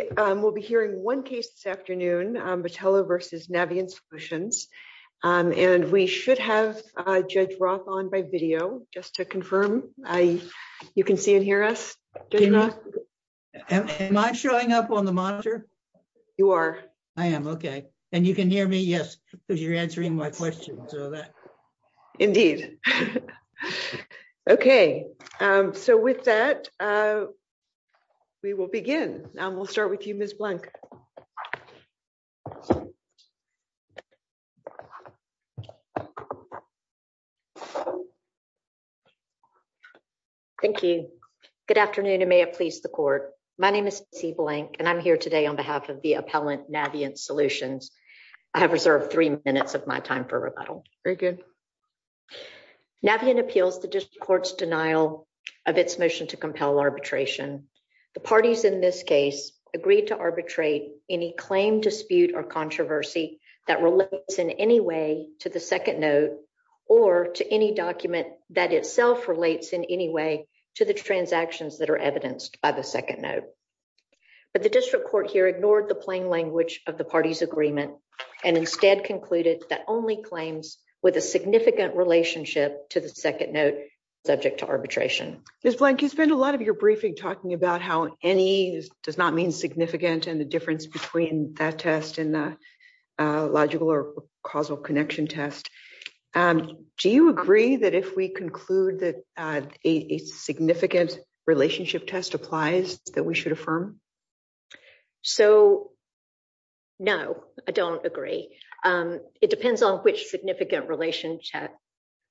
We will be hearing one case this afternoon, Batello v. Navient Solutions, and we should have Judge Roth on by video, just to confirm. You can see and hear us, Judge Roth? Am I showing up on the monitor? You are. I am, okay. And you can hear me? Yes, because you're answering my questions. Indeed. Okay. So with that, we will begin. We'll start with you, Ms. Blank. Thank you. Good afternoon and may it please the court. My name is Steve Blank and I'm here today on behalf of the appellant Navient Solutions. I have reserved three minutes of my time for rebuttal. Very good. Navient appeals the district court's denial of its motion to compel arbitration. The parties in this case agreed to arbitrate any claim, dispute, or controversy that relates in any way to the second note or to any document that itself relates in any way to the transactions that are evidenced by the second note. But the district court here ignored the plain language of the parties agreement and instead concluded that only claims with a significant relationship to the second note subject to arbitration. Ms. Blank, you spend a lot of your briefing talking about how any does not mean significant and the difference between that test and the logical or causal connection test. Do you agree that if we conclude that a significant relationship test applies that we should affirm? So, no, I don't agree. It depends on which significant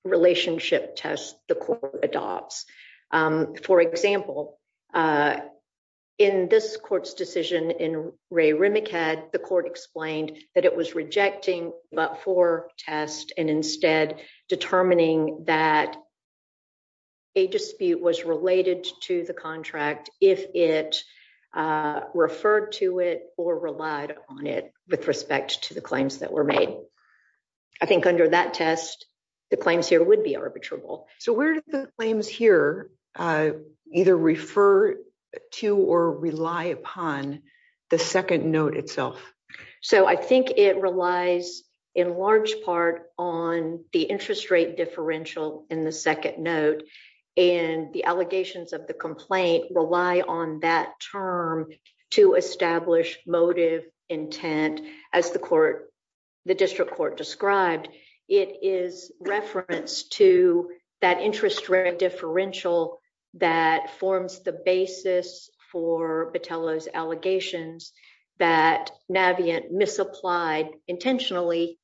relationship test the court adopts. For example, in this court's decision in Ray Rimacad, the court explained that it was rejecting but for test and instead determining that a dispute was related to the contract if it referred to it or relied on it with respect to the claims that were made. I think under that test, the claims here would be arbitrable. So where do the claims here either refer to or rely upon the second note itself? So I think it relies in large part on the interest rate differential in the second note and the allegations of the complaint rely on that term to establish motive intent as the court, the district court described. It is reference to that interest rate differential that forms the basis for Battello's allegations that Navient misapplied intentionally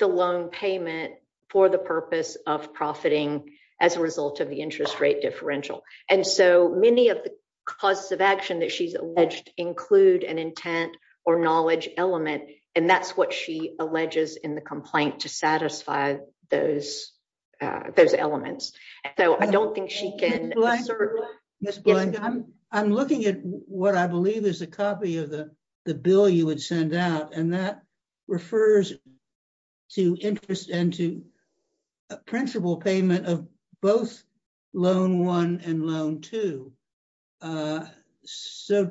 the loan payment for the purpose of profiting as a result of the interest rate differential. And so many of the causes of action that she's alleged include an intent or knowledge element and that's what she alleges in the complaint to satisfy those elements. Ms. Blank, I'm looking at what I believe is a copy of the bill you would send out and that refers to interest and to principal payment of both loan one and loan two. So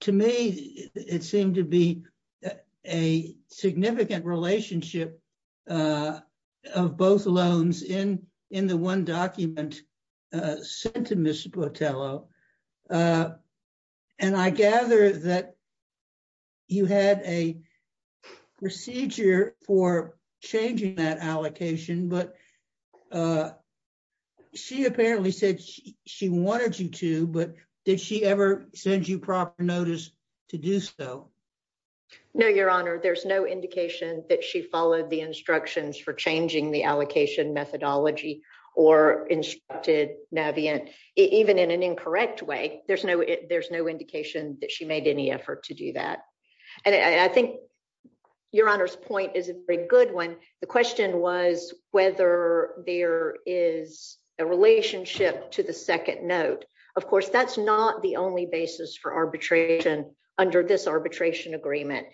to me, it seemed to be a significant relationship of both loans in the one document sent to Ms. Bottello. And I gather that you had a procedure for changing that allocation, but she apparently said she wanted you to, but did she ever send you proper notice to do so? No, Your Honor. There's no indication that she followed the instructions for changing the allocation methodology or instructed Navient even in an incorrect way. There's no there's no indication that she made any effort to do that. And I think Your Honor's point is a very good one. The question was whether there is a relationship to the second note. Of course, that's not the only basis for arbitration under this arbitration agreement.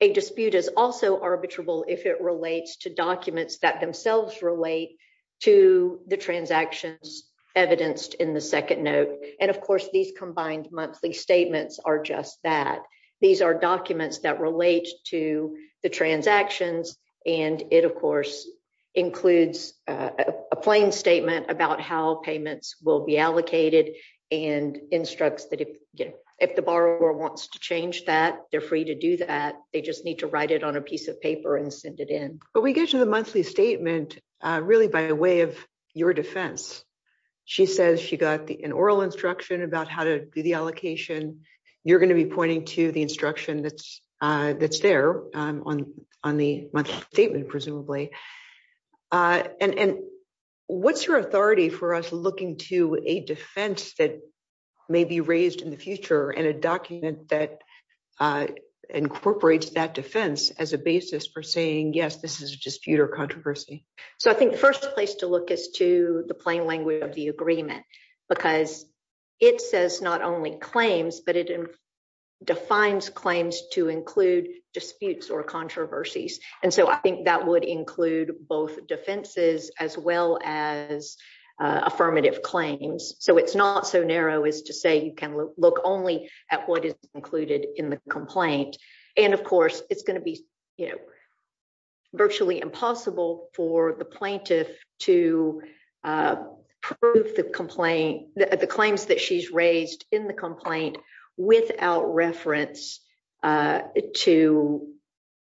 A dispute is also arbitrable if it relates to documents that themselves relate to the transactions evidenced in the second note. And of course, these combined monthly statements are just that. These are documents that relate to the transactions. And it, of course, includes a plain statement about how payments will be allocated and instructs that if the borrower wants to change that, they're free to do that. They just need to write it on a piece of paper and send it in. But we get to the monthly statement really by way of your defense. She says she got an oral instruction about how to do the allocation. You're going to be pointing to the instruction that's that's there on on the monthly statement, presumably. And what's your authority for us looking to a defense that may be raised in the future and a document that incorporates that defense as a basis for saying, yes, this is a dispute or controversy. So I think first place to look is to the plain language of the agreement, because it says not only claims, but it defines claims to include disputes or controversies. And so I think that would include both defenses as well as affirmative claims. So it's not so narrow as to say you can look only at what is included in the complaint. And of course, it's going to be virtually impossible for the plaintiff to prove the complaint, the claims that she's raised in the complaint without reference to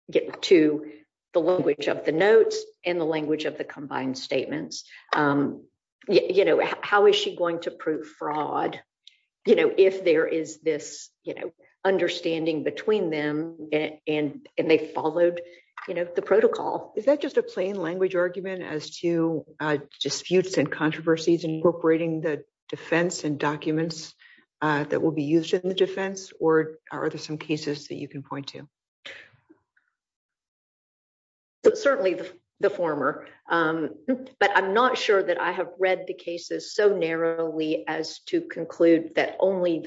get to the language of the notes and the language of the combined statements. You know, how is she going to prove fraud if there is this understanding between them and they followed the protocol? Is that just a plain language argument as to disputes and controversies incorporating the defense and documents that will be used in the defense? Or are there some cases that you can point to? Certainly the former, but I'm not sure that I have read the cases so narrowly as to conclude that only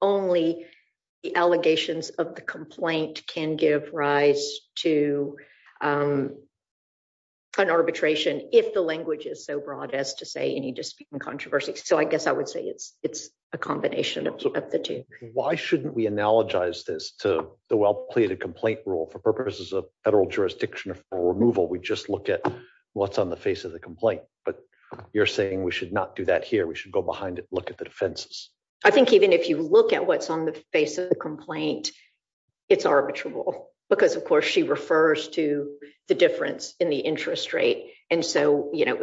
the allegations of the complaint can give rise to an arbitration if the language is so broad as to say any dispute and controversy. So I guess I would say it's a combination of the two. Why shouldn't we analogize this to the well-plated complaint rule for purposes of federal jurisdiction for removal? We just look at what's on the face of the complaint. But you're saying we should not do that here. We should go behind it, look at the defenses. I think even if you look at what's on the face of the complaint, it's arbitrable because, of course, she refers to the difference in the interest rate. And so, you know,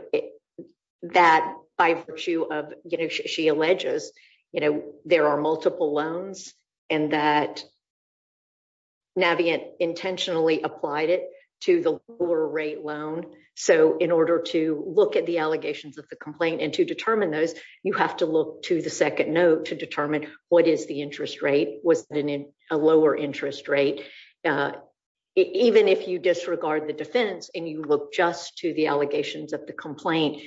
that by virtue of she alleges, you know, there are multiple loans and that Navient intentionally applied it to the lower rate loan. So in order to look at the allegations of the complaint and to determine those, you have to look to the second note to determine what is the interest rate? Was it a lower interest rate? Even if you disregard the defense and you look just to the allegations of the complaint,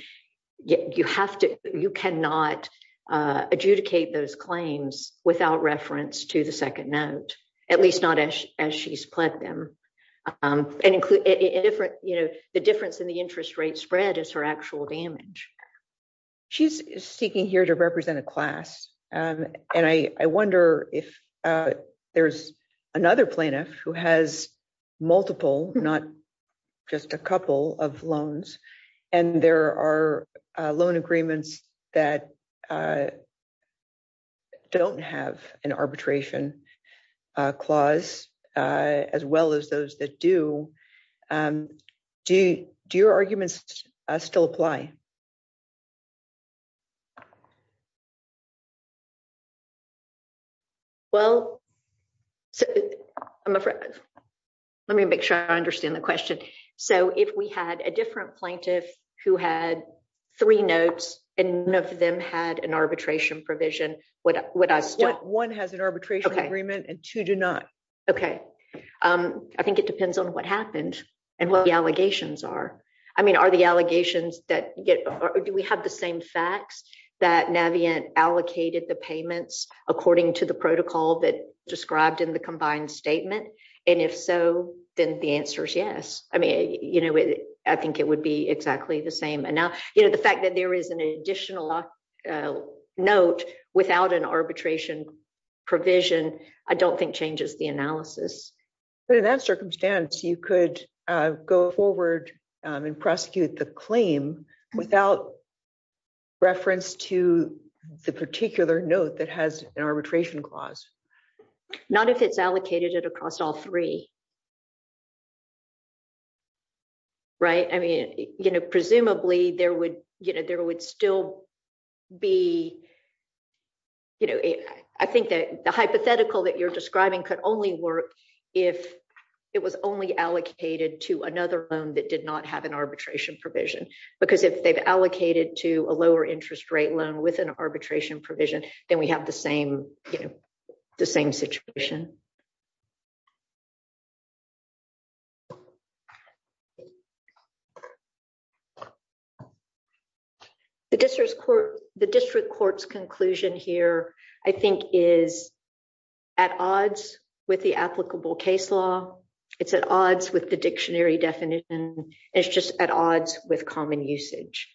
you have to, you cannot adjudicate those claims without reference to the second note, at least not as she's pledged them. The difference in the interest rate spread is her actual damage. She's speaking here to represent a class. And I wonder if there's another plaintiff who has multiple, not just a couple of loans. And there are loan agreements that don't have an arbitration clause, as well as those that do. Do your arguments still apply? Well, I'm afraid. Let me make sure I understand the question. So if we had a different plaintiff who had three notes and none of them had an arbitration provision. One has an arbitration agreement and two do not. Okay. I think it depends on what happened and what the allegations are. I mean, are the allegations that, do we have the same facts that Navient allocated the payments according to the protocol that described in the combined statement? And if so, then the answer is yes. I mean, you know, I think it would be exactly the same. And now, you know, the fact that there is an additional note without an arbitration provision, I don't think changes the analysis. But in that circumstance, you could go forward and prosecute the claim without reference to the particular note that has an arbitration clause. Not if it's allocated at across all three. Right. I mean, you know, presumably there would, you know, there would still be, you know, I think that the hypothetical that you're describing could only work if it was only allocated to another loan that did not have an arbitration provision. Because if they've allocated to a lower interest rate loan with an arbitration provision, then we have the same, you know, the same situation. The district court, the district court's conclusion here, I think, is at odds with the applicable case law. It's at odds with the dictionary definition. It's just at odds with common usage.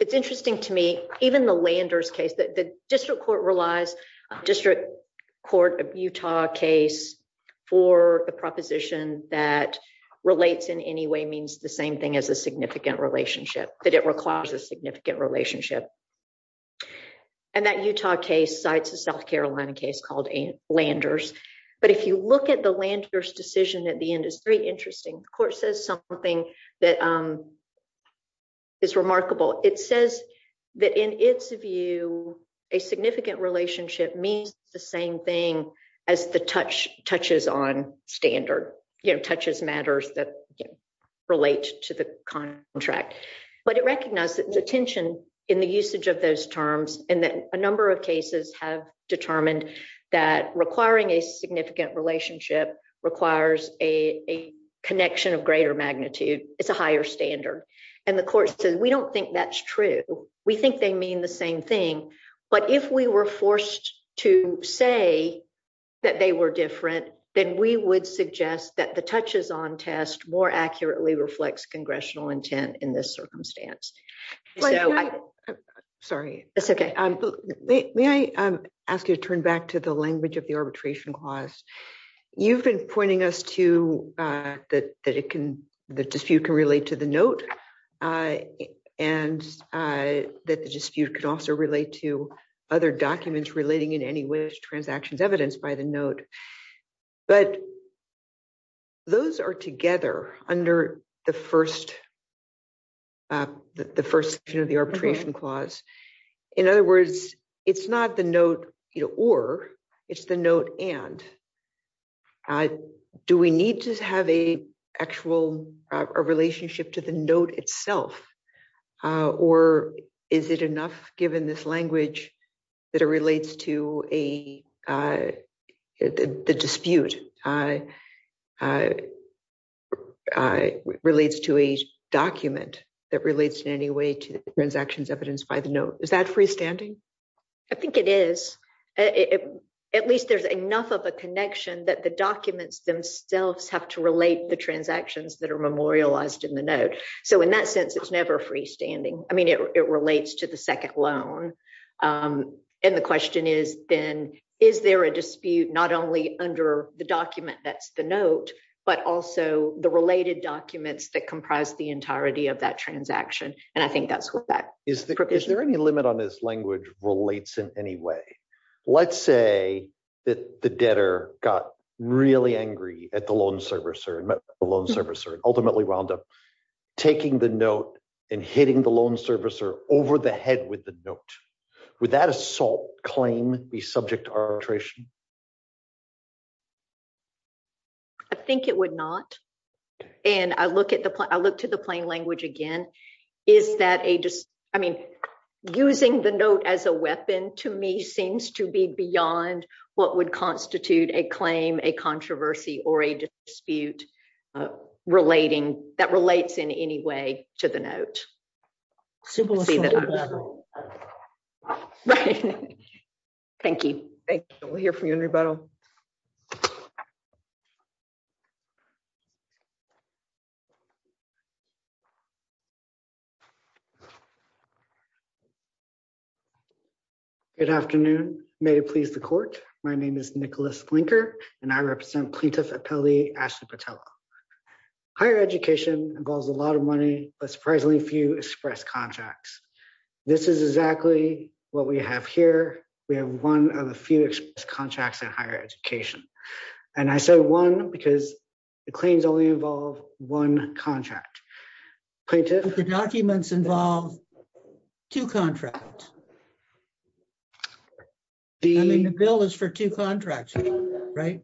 It's interesting to me, even the Landers case that the district court relies district court of Utah case for a proposition that relates in any way means the same thing as a significant relationship that it requires a significant relationship. And that Utah case cites a South Carolina case called Landers. But if you look at the Landers decision at the end, it's very interesting. The court says something that is remarkable. It says that in its view, a significant relationship means the same thing as the touches on standard, you know, touches matters that relate to the contract. But it recognizes the tension in the usage of those terms and that a number of cases have determined that requiring a significant relationship requires a connection of greater magnitude. It's a higher standard. And the court says, we don't think that's true. We think they mean the same thing. But if we were forced to say that they were different, then we would suggest that the touches on test more accurately reflects congressional intent in this circumstance. Sorry, it's okay. May I ask you to turn back to the language of the arbitration clause, you've been pointing us to that, that it can the dispute can relate to the note. And that the dispute can also relate to other documents relating in any way to transactions evidenced by the note. But those are together under the first, the first, you know, the arbitration clause. In other words, it's not the note, you know, or it's the note and I do we need to have a actual relationship to the note itself. Or is it enough given this language that it relates to a dispute relates to a document that relates in any way to transactions evidenced by the note. Is that freestanding? I think it is. At least there's enough of a connection that the documents themselves have to relate the transactions that are memorialized in the note. So in that sense, it's never freestanding. I mean, it relates to the second loan. And the question is, then, is there a dispute, not only under the document that's the note, but also the related documents that comprise the entirety of that transaction. And I think that's what that Is there any limit on this language relates in any way. Let's say that the debtor got really angry at the loan servicer and ultimately wound up taking the note and hitting the loan servicer over the head with the note. Would that assault claim be subject to arbitration? I think it would not. And I look at the I look to the plain language again. Is that a just, I mean, using the note as a weapon to me seems to be beyond what would constitute a claim a controversy or a dispute relating that relates in any way to the note. Thank you. Thank you. We'll hear from you in rebuttal. Good afternoon. May it please the court. My name is Nicholas blinker, and I represent plaintiff appellee Ashley Patel. Higher education involves a lot of money, but surprisingly few express contracts. This is exactly what we have here. We have one of the few contracts in higher education. And I said one because the claims only involve one contract. The documents involve two contracts. The bill is for two contracts. Right.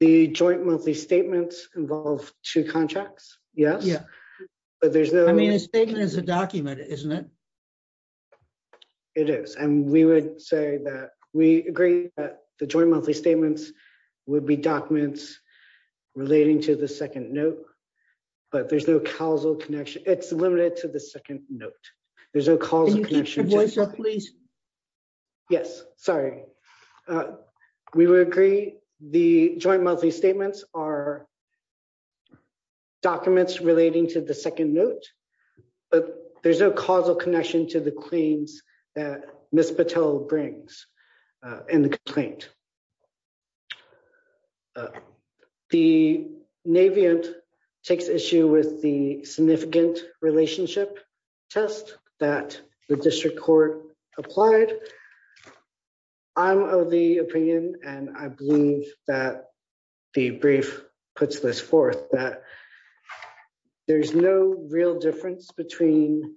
The joint monthly statements involve two contracts. Yes. Yeah. But there's no I mean it's taken as a document, isn't it. It is, and we would say that we agree that the joint monthly statements would be documents relating to the second note, but there's no causal connection, it's limited to the second note. There's a call. Yes, sorry. Okay. We would agree. The joint monthly statements are documents relating to the second note. But there's no causal connection to the claims that Miss Patel brings in the complaint. The Navy and takes issue with the significant relationship test that the district court applied. I'm of the opinion, and I believe that the brief puts this forth that there's no real difference between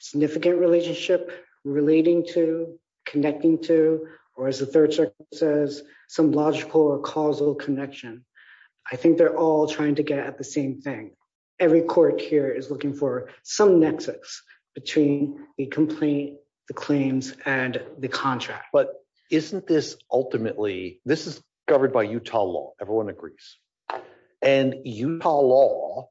significant relationship, relating to connecting to, or as the third check says some logical or causal connection. I think they're all trying to get at the same thing. Every court here is looking for some nexus between a complaint, the claims, and the contract but isn't this, ultimately, this is covered by Utah law, everyone agrees. And Utah law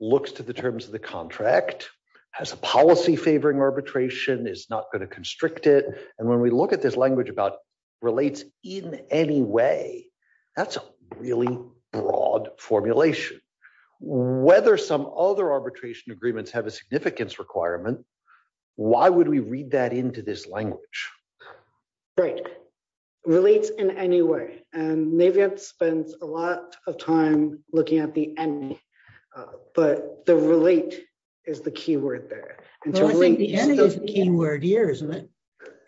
looks to the terms of the contract has a policy favoring arbitration is not going to constrict it. And when we look at this language about relates in any way. That's a really broad formulation, whether some other arbitration agreements have a significance requirement. Why would we read that into this language. Right. Relates in any way, and maybe it spends a lot of time looking at the enemy. But the relate is the key word there. Key word here isn't it,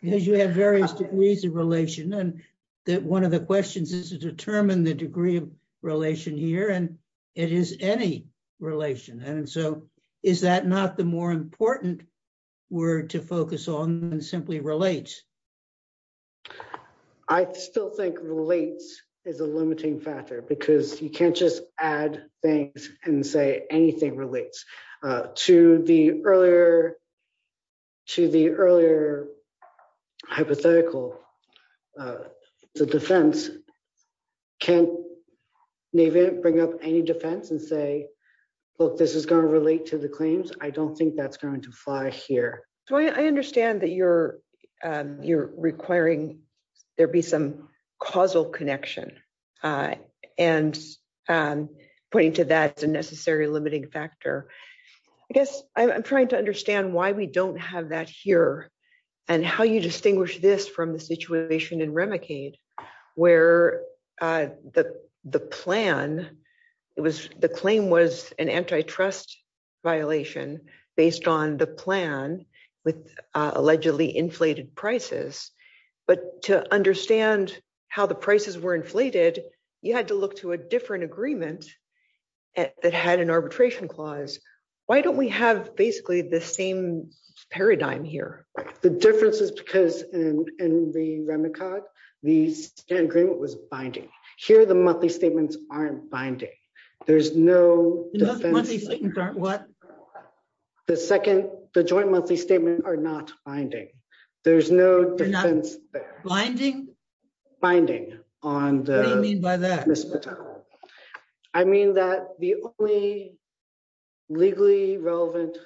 because you have various degrees of relation and that one of the questions is to determine the degree of relation here and it is any relation and so is that not the more important word to focus on simply relates. I still think relates is a limiting factor because you can't just add things and say anything relates to the earlier to the earlier hypothetical. The defense can even bring up any defense and say, look, this is going to relate to the claims, I don't think that's going to fly here. So I understand that you're, you're requiring there be some causal connection. And pointing to that as a necessary limiting factor. I guess I'm trying to understand why we don't have that here, and how you distinguish this from the situation in Remicade, where the plan. It was the claim was an antitrust violation, based on the plan with allegedly inflated prices, but to understand how the prices were inflated, you had to look to a different agreement that had an arbitration clause. Why don't we have basically the same paradigm here. The difference is because in the Remicade, the agreement was binding here the monthly statements aren't binding. There's no. What. The second, the joint monthly statement are not finding. There's no binding binding on the mean by that. I mean that the only legally relevant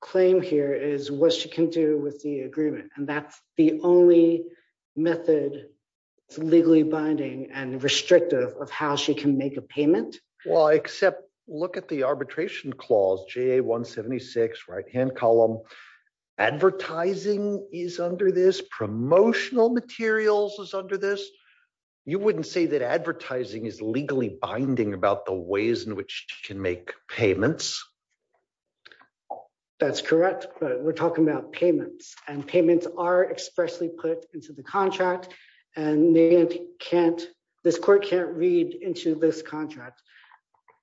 claim here is what she can do with the agreement, and that's the only method legally binding and restrictive of how she can make a payment. Well, except look at the arbitration clause j 176 right hand column advertising is under this promotional materials is under this. You wouldn't say that advertising is legally binding about the ways in which can make payments. That's correct, but we're talking about payments and payments are expressly put into the contract, and they can't. This court can't read into this contract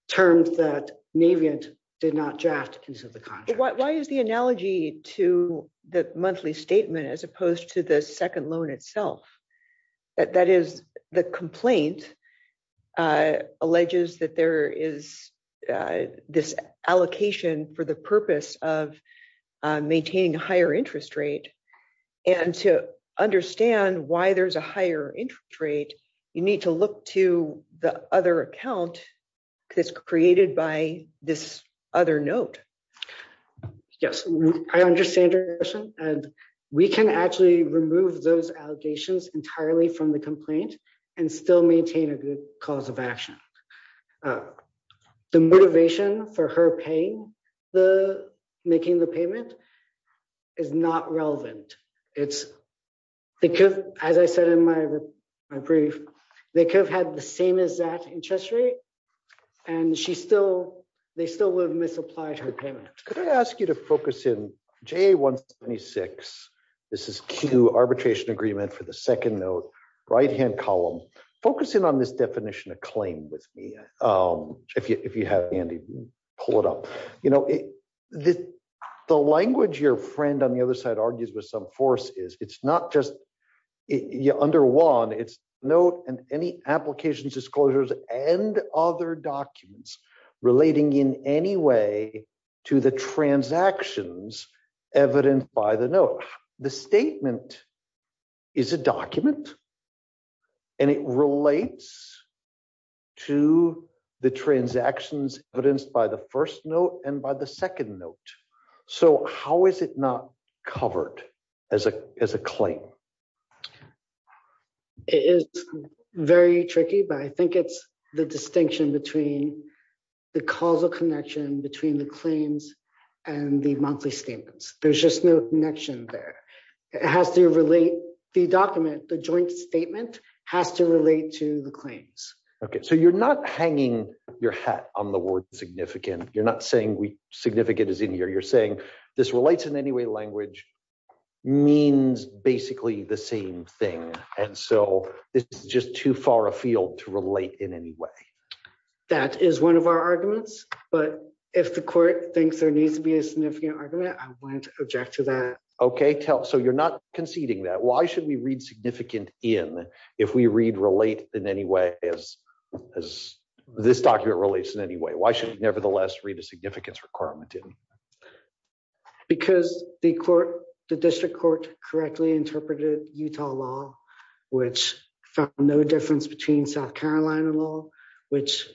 terms that Navient did not draft into the contract. Why is the analogy to the monthly statement as opposed to the second loan itself. That is the complaint alleges that there is this allocation for the purpose of maintaining higher interest rate, and to understand why there's a higher interest rate, you need to look to the other account is created by this other note. Yes, I understand. And we can actually remove those allegations entirely from the complaint and still maintain a good cause of action. The motivation for her paying the making the payment is not relevant. It's because, as I said in my, my brief, they could have had the same as that interest rate, and she still, they still would have misapplied her payment. Could I ask you to focus in j 176. This is Q arbitration agreement for the second note right hand column, focusing on this definition of claim with me. If you have Andy, pull it up, you know, the, the language your friend on the other side argues with some force is it's not just you under one it's note and any applications disclosures and other documents relating in any way to the transactions, evident by the note, the statement is a document. And it relates to the transactions, but it's by the first note and by the second note. So how is it not covered as a, as a claim. It is very tricky but I think it's the distinction between the causal connection between the claims and the monthly statements, there's just no connection there. It has to relate the document the joint statement has to relate to the claims. Okay, so you're not hanging your hat on the word significant, you're not saying we significant is in here you're saying this relates in any way language means basically the same thing. And so, this is just too far afield to relate in any way. That is one of our arguments, but if the court thinks there needs to be a significant argument I want to object to that. Okay, tell so you're not conceding that why should we read significant in. If we read relate in any way as, as this document relates in any way why should nevertheless read a significance requirement in because the court, the district court correctly interpreted Utah law, which no difference between South Carolina law, which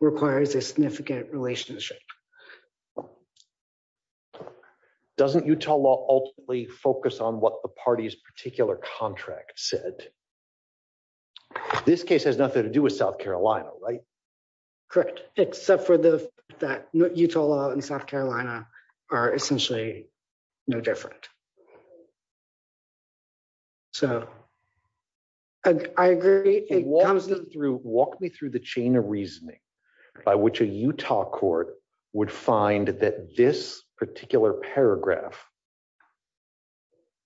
requires a significant relationship. Doesn't Utah law ultimately focus on what the party's particular contract said. This case has nothing to do with South Carolina right. Correct, except for the that Utah law in South Carolina are essentially no different. So, I agree, it was through walk me through the chain of reasoning, by which a Utah court would find that this particular paragraph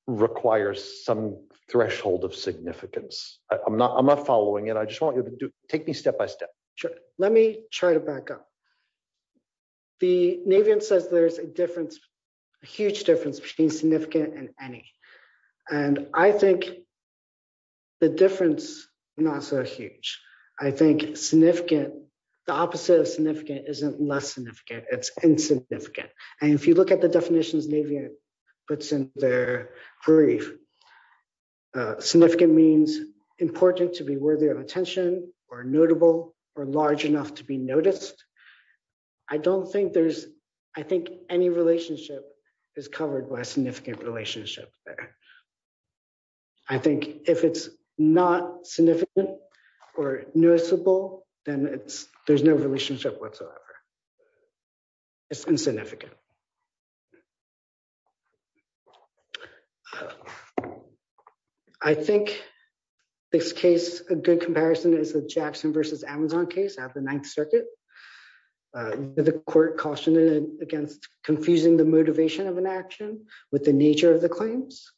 requires some threshold of significance, I'm not I'm not following and I just want you to take me step by step. Sure, let me try to back up. The Navy and says there's a difference, a huge difference between significant and any. And I think the difference. Not so huge. I think, significant, the opposite of significant isn't less significant it's insignificant. And if you look at the definitions Navy, but since they're brief significant means important to be worthy of attention or notable or large enough to be noticed. I don't think there's, I think, any relationship is covered by significant relationship there. I think if it's not significant or noticeable, then it's, there's no relationship whatsoever. It's insignificant. Thank you. I think this case, a good comparison is the Jackson versus Amazon case at the Ninth Circuit. The court cautioned against confusing the motivation of an action with the nature of the claims.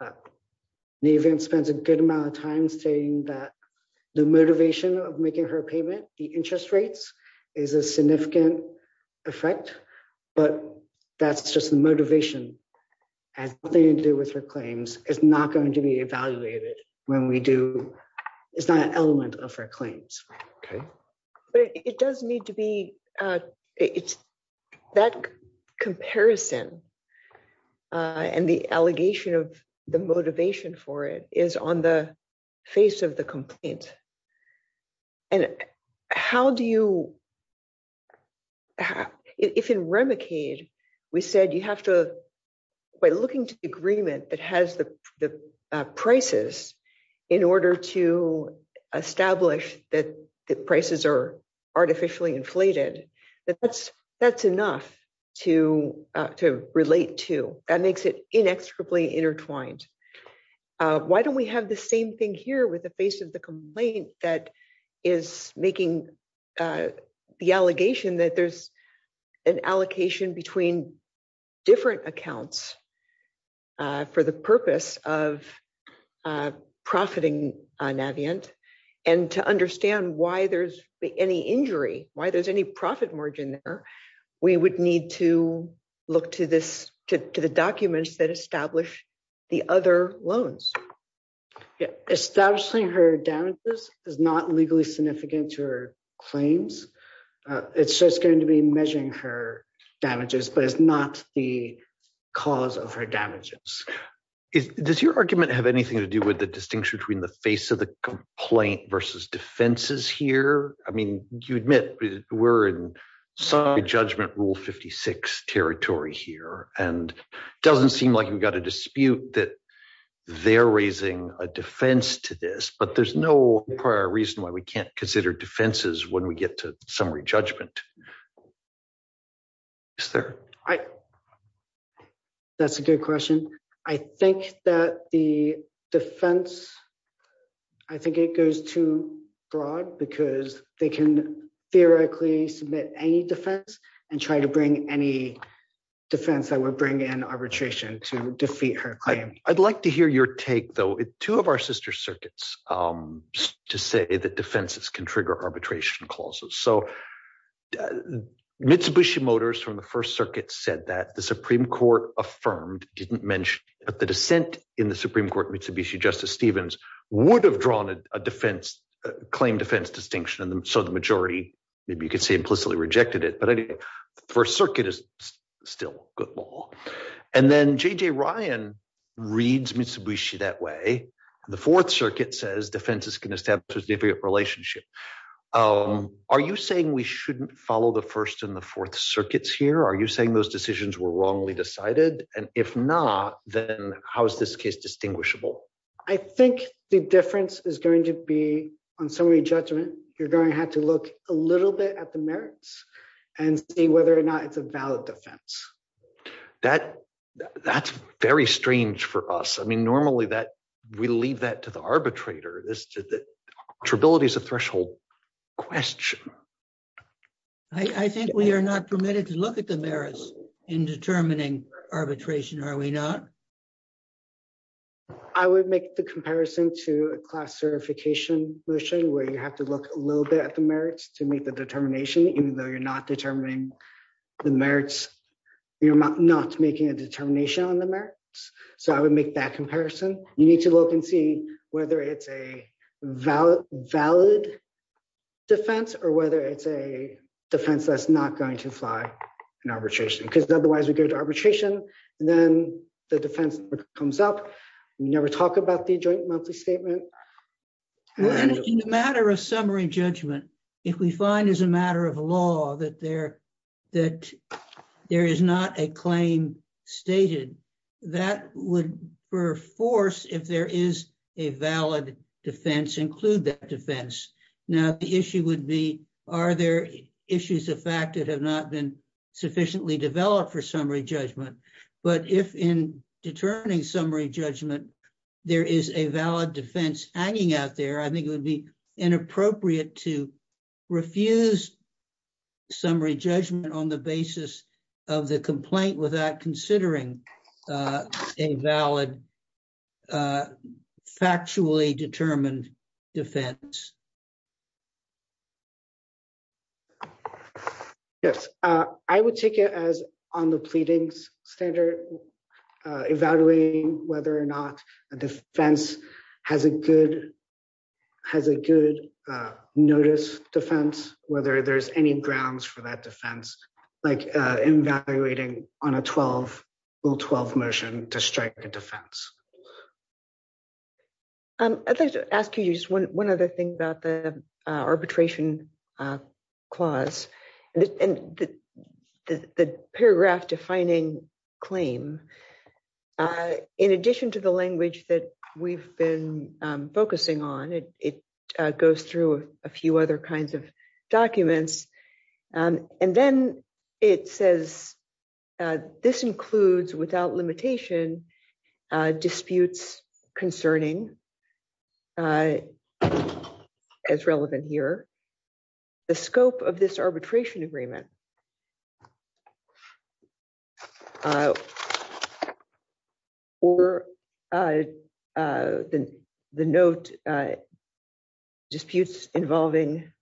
The event spends a good amount of time saying that the motivation of making her payment, the interest rates is a significant effect, but that's just the motivation, as they do with her claims is not going to be evaluated. When we do. It's not an element of her claims. Okay. But it does need to be. It's that comparison, and the allegation of the motivation for it is on the face of the complaint. And how do you. If in Remicade. We said you have to by looking to the agreement that has the prices in order to establish that the prices are artificially inflated, that that's, that's enough to to relate to that makes it inexorably intertwined. Why don't we have the same thing here with the face of the complaint that is making the allegation that there's an allocation between different accounts for the purpose of profiting Navient, and to understand why there's any injury, why there's any profit margin there. We would need to look to this to the documents that establish the other loans. Establishing her damages is not legally significant to her claims. It's just going to be measuring her damages but it's not the cause of her damages. Does your argument have anything to do with the distinction between the face of the complaint versus defenses here, I mean, you admit, we're in some judgment rule 56 territory here, and doesn't seem like we've got a dispute that they're raising a defense to this but there's no prior reason why we can't consider defenses when we get to summary judgment. Sir. That's a good question. I think that the defense. I think it goes to broad because they can theoretically submit any defense and try to bring any defense that would bring in arbitration to defeat her claim, I'd like to hear your take though it two of our sister circuits to say that defenses can trigger arbitration clauses so Mitsubishi Motors from the First Circuit said that the Supreme Court affirmed didn't mention that the dissent in the Supreme Court Mitsubishi Justice Stevens would have drawn a defense claim defense distinction and so the majority. Maybe you could say implicitly rejected it but I didn't. First Circuit is still good. And then JJ Ryan reads Mitsubishi that way. The Fourth Circuit says defenses can establish a relationship. Are you saying we shouldn't follow the first and the fourth circuits here are you saying those decisions were wrongly decided, and if not, then how is this case distinguishable. I think the difference is going to be on summary judgment, you're going to have to look a little bit at the merits and see whether or not it's a valid defense that that's very strange for us I mean normally that we leave that to the arbitrator this ability is a threshold question. I think we are not permitted to look at the merits in determining arbitration are we not. I would make the comparison to a class certification mission where you have to look a little bit at the merits to make the determination, even though you're not determining the merits. You're not making a determination on the merits. So I would make that comparison, you need to look and see whether it's a valid, valid defense or whether it's a defense that's not going to fly in arbitration because otherwise we go to arbitration, and then the defense comes up. Never talk about the joint monthly statement. Matter of summary judgment. If we find is a matter of law that there that there is not a claim stated that would force if there is a valid defense include that defense. Now the issue would be, are there issues of fact that have not been sufficiently developed for summary judgment, but if in determining summary judgment. There is a valid defense hanging out there I think it would be inappropriate to refuse summary judgment on the basis of the complaint without considering a valid factually determined defense. Yes, I would take it as on the pleadings standard evaluating whether or not a defense has a good has a good notice defense, whether there's any grounds for that defense, like evaluating on a 12 will 12 motion to strike a defense. I'd like to ask you just one other thing about the arbitration clause, and the paragraph defining claim. In addition to the language that we've been focusing on it, it goes through a few other kinds of documents. And then it says, this includes without limitation disputes concerning as relevant here, the scope of this arbitration agreement or the, the note disputes involving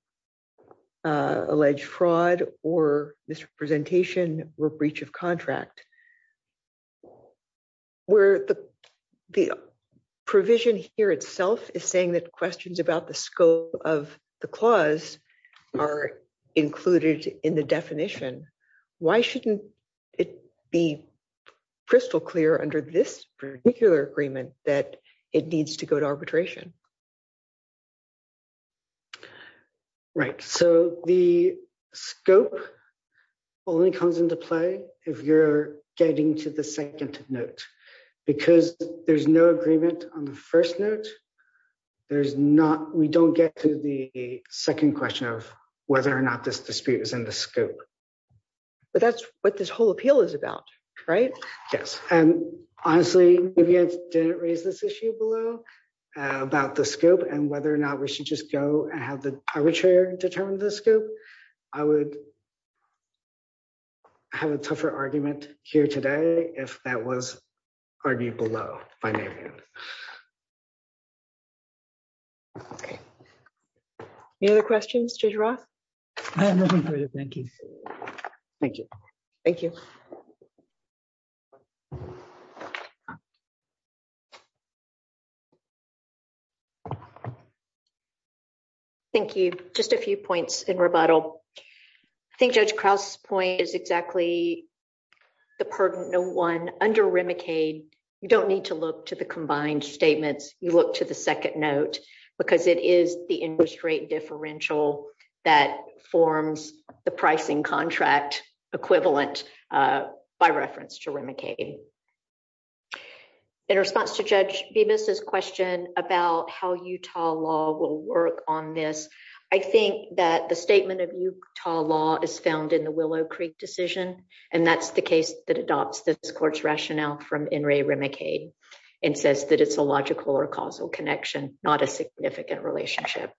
alleged fraud or misrepresentation or breach of contract, where the, the provision here itself is saying that questions about the scope of the clause are included in the definition. Why shouldn't it be crystal clear under this particular agreement that it needs to go to arbitration. Right, so the scope only comes into play. If you're getting to the second note, because there's no agreement on the first note, there's not we don't get to the second question of whether or not this dispute is in the scope. But that's what this whole appeal is about. Right. Yes. And honestly, if you didn't raise this issue below about the scope and whether or not we should just go and have the arbitrary determine the scope. I would have a tougher argument here today, if that was already below. Okay. Any other questions to draw. Thank you. Thank you. Thank you. Thank you, just a few points in rebuttal. I think Judge Krauss point is exactly the part of no one under Remicade, you don't need to look to the combined statements, you look to the second note, because it is the interest rate differential that forms the pricing contract equivalent by reference to Remicade. Thank you. In response to judge be Mrs question about how Utah law will work on this. I think that the statement of Utah law is found in the Willow Creek decision. And that's the case that adopts this court's rationale from in Ray Remicade, and says that it's a logical or causal connection, not a significant relationship.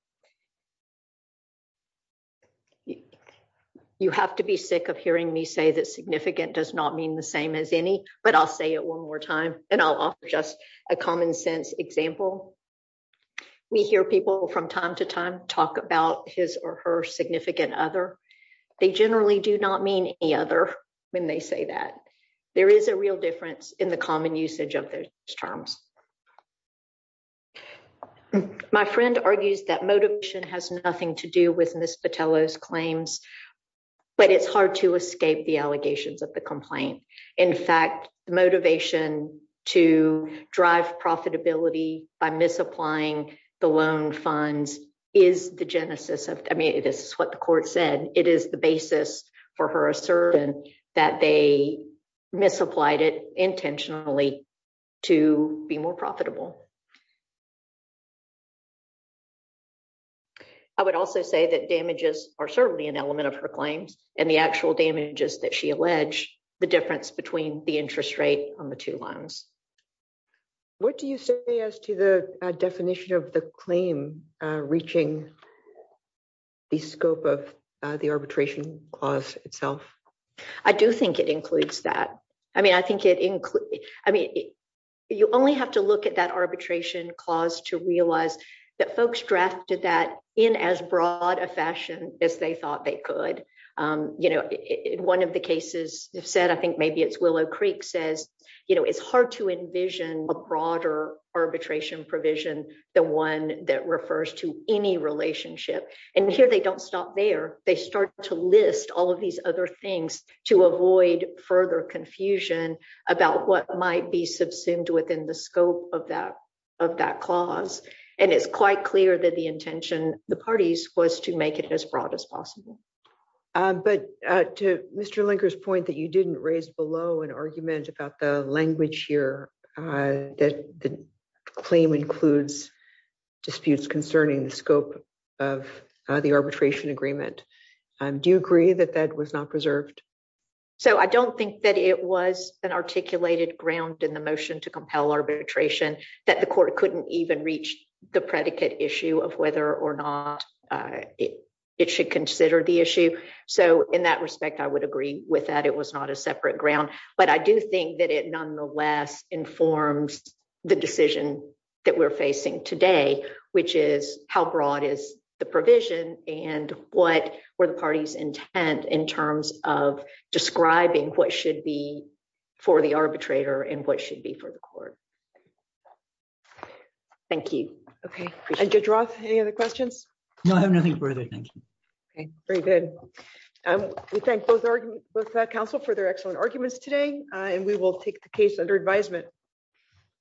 Okay. You have to be sick of hearing me say that significant does not mean the same as any, but I'll say it one more time, and I'll offer just a common sense example. We hear people from time to time, talk about his or her significant other. They generally do not mean the other when they say that there is a real difference in the common usage of those terms. My friend argues that motivation has nothing to do with Miss patello's claims. But it's hard to escape the allegations of the complaint. In fact, motivation to drive profitability by misapplying the loan funds is the genesis of, I mean it is what the court said it is the basis for her assertion that they misapplied it intentionally to be more profitable. I would also say that damages are certainly an element of her claims, and the actual damages that she alleged the difference between the interest rate on the two lines. What do you say as to the definition of the claim, reaching the scope of the arbitration clause itself. I do think it includes that. I mean I think it includes, I mean, you only have to look at that arbitration clause to realize that folks drafted that in as broad a fashion, as they thought they could, you know, in one of the cases, said I think maybe it's Willow Creek says, you know, it's hard to envision a broader arbitration provision, the one that refers to any relationship, and here they don't stop there, they start to list all of these other things to avoid further confusion about what might be subsumed within the scope of that of that clause, and it's quite clear that the intention, the parties was to make it as broad as possible. But to Mr linkers point that you didn't raise below an argument about the language here that claim includes disputes concerning the scope of the arbitration agreement. Do you agree that that was not preserved. So I don't think that it was an articulated ground in the motion to compel arbitration, that the court couldn't even reach the predicate issue of whether or not it should consider the issue. So, in that respect, I would agree with that it was not a separate ground, but I do think that it nonetheless informs the decision that we're facing today, which is how broad is the provision, and what were the parties intent in terms of describing what should be for the arbitrator and what should be for the court. Thank you. Okay. Any other questions. No I have nothing further. Okay, very good. And we thank both our council for their excellent arguments today, and we will take the case under advisement.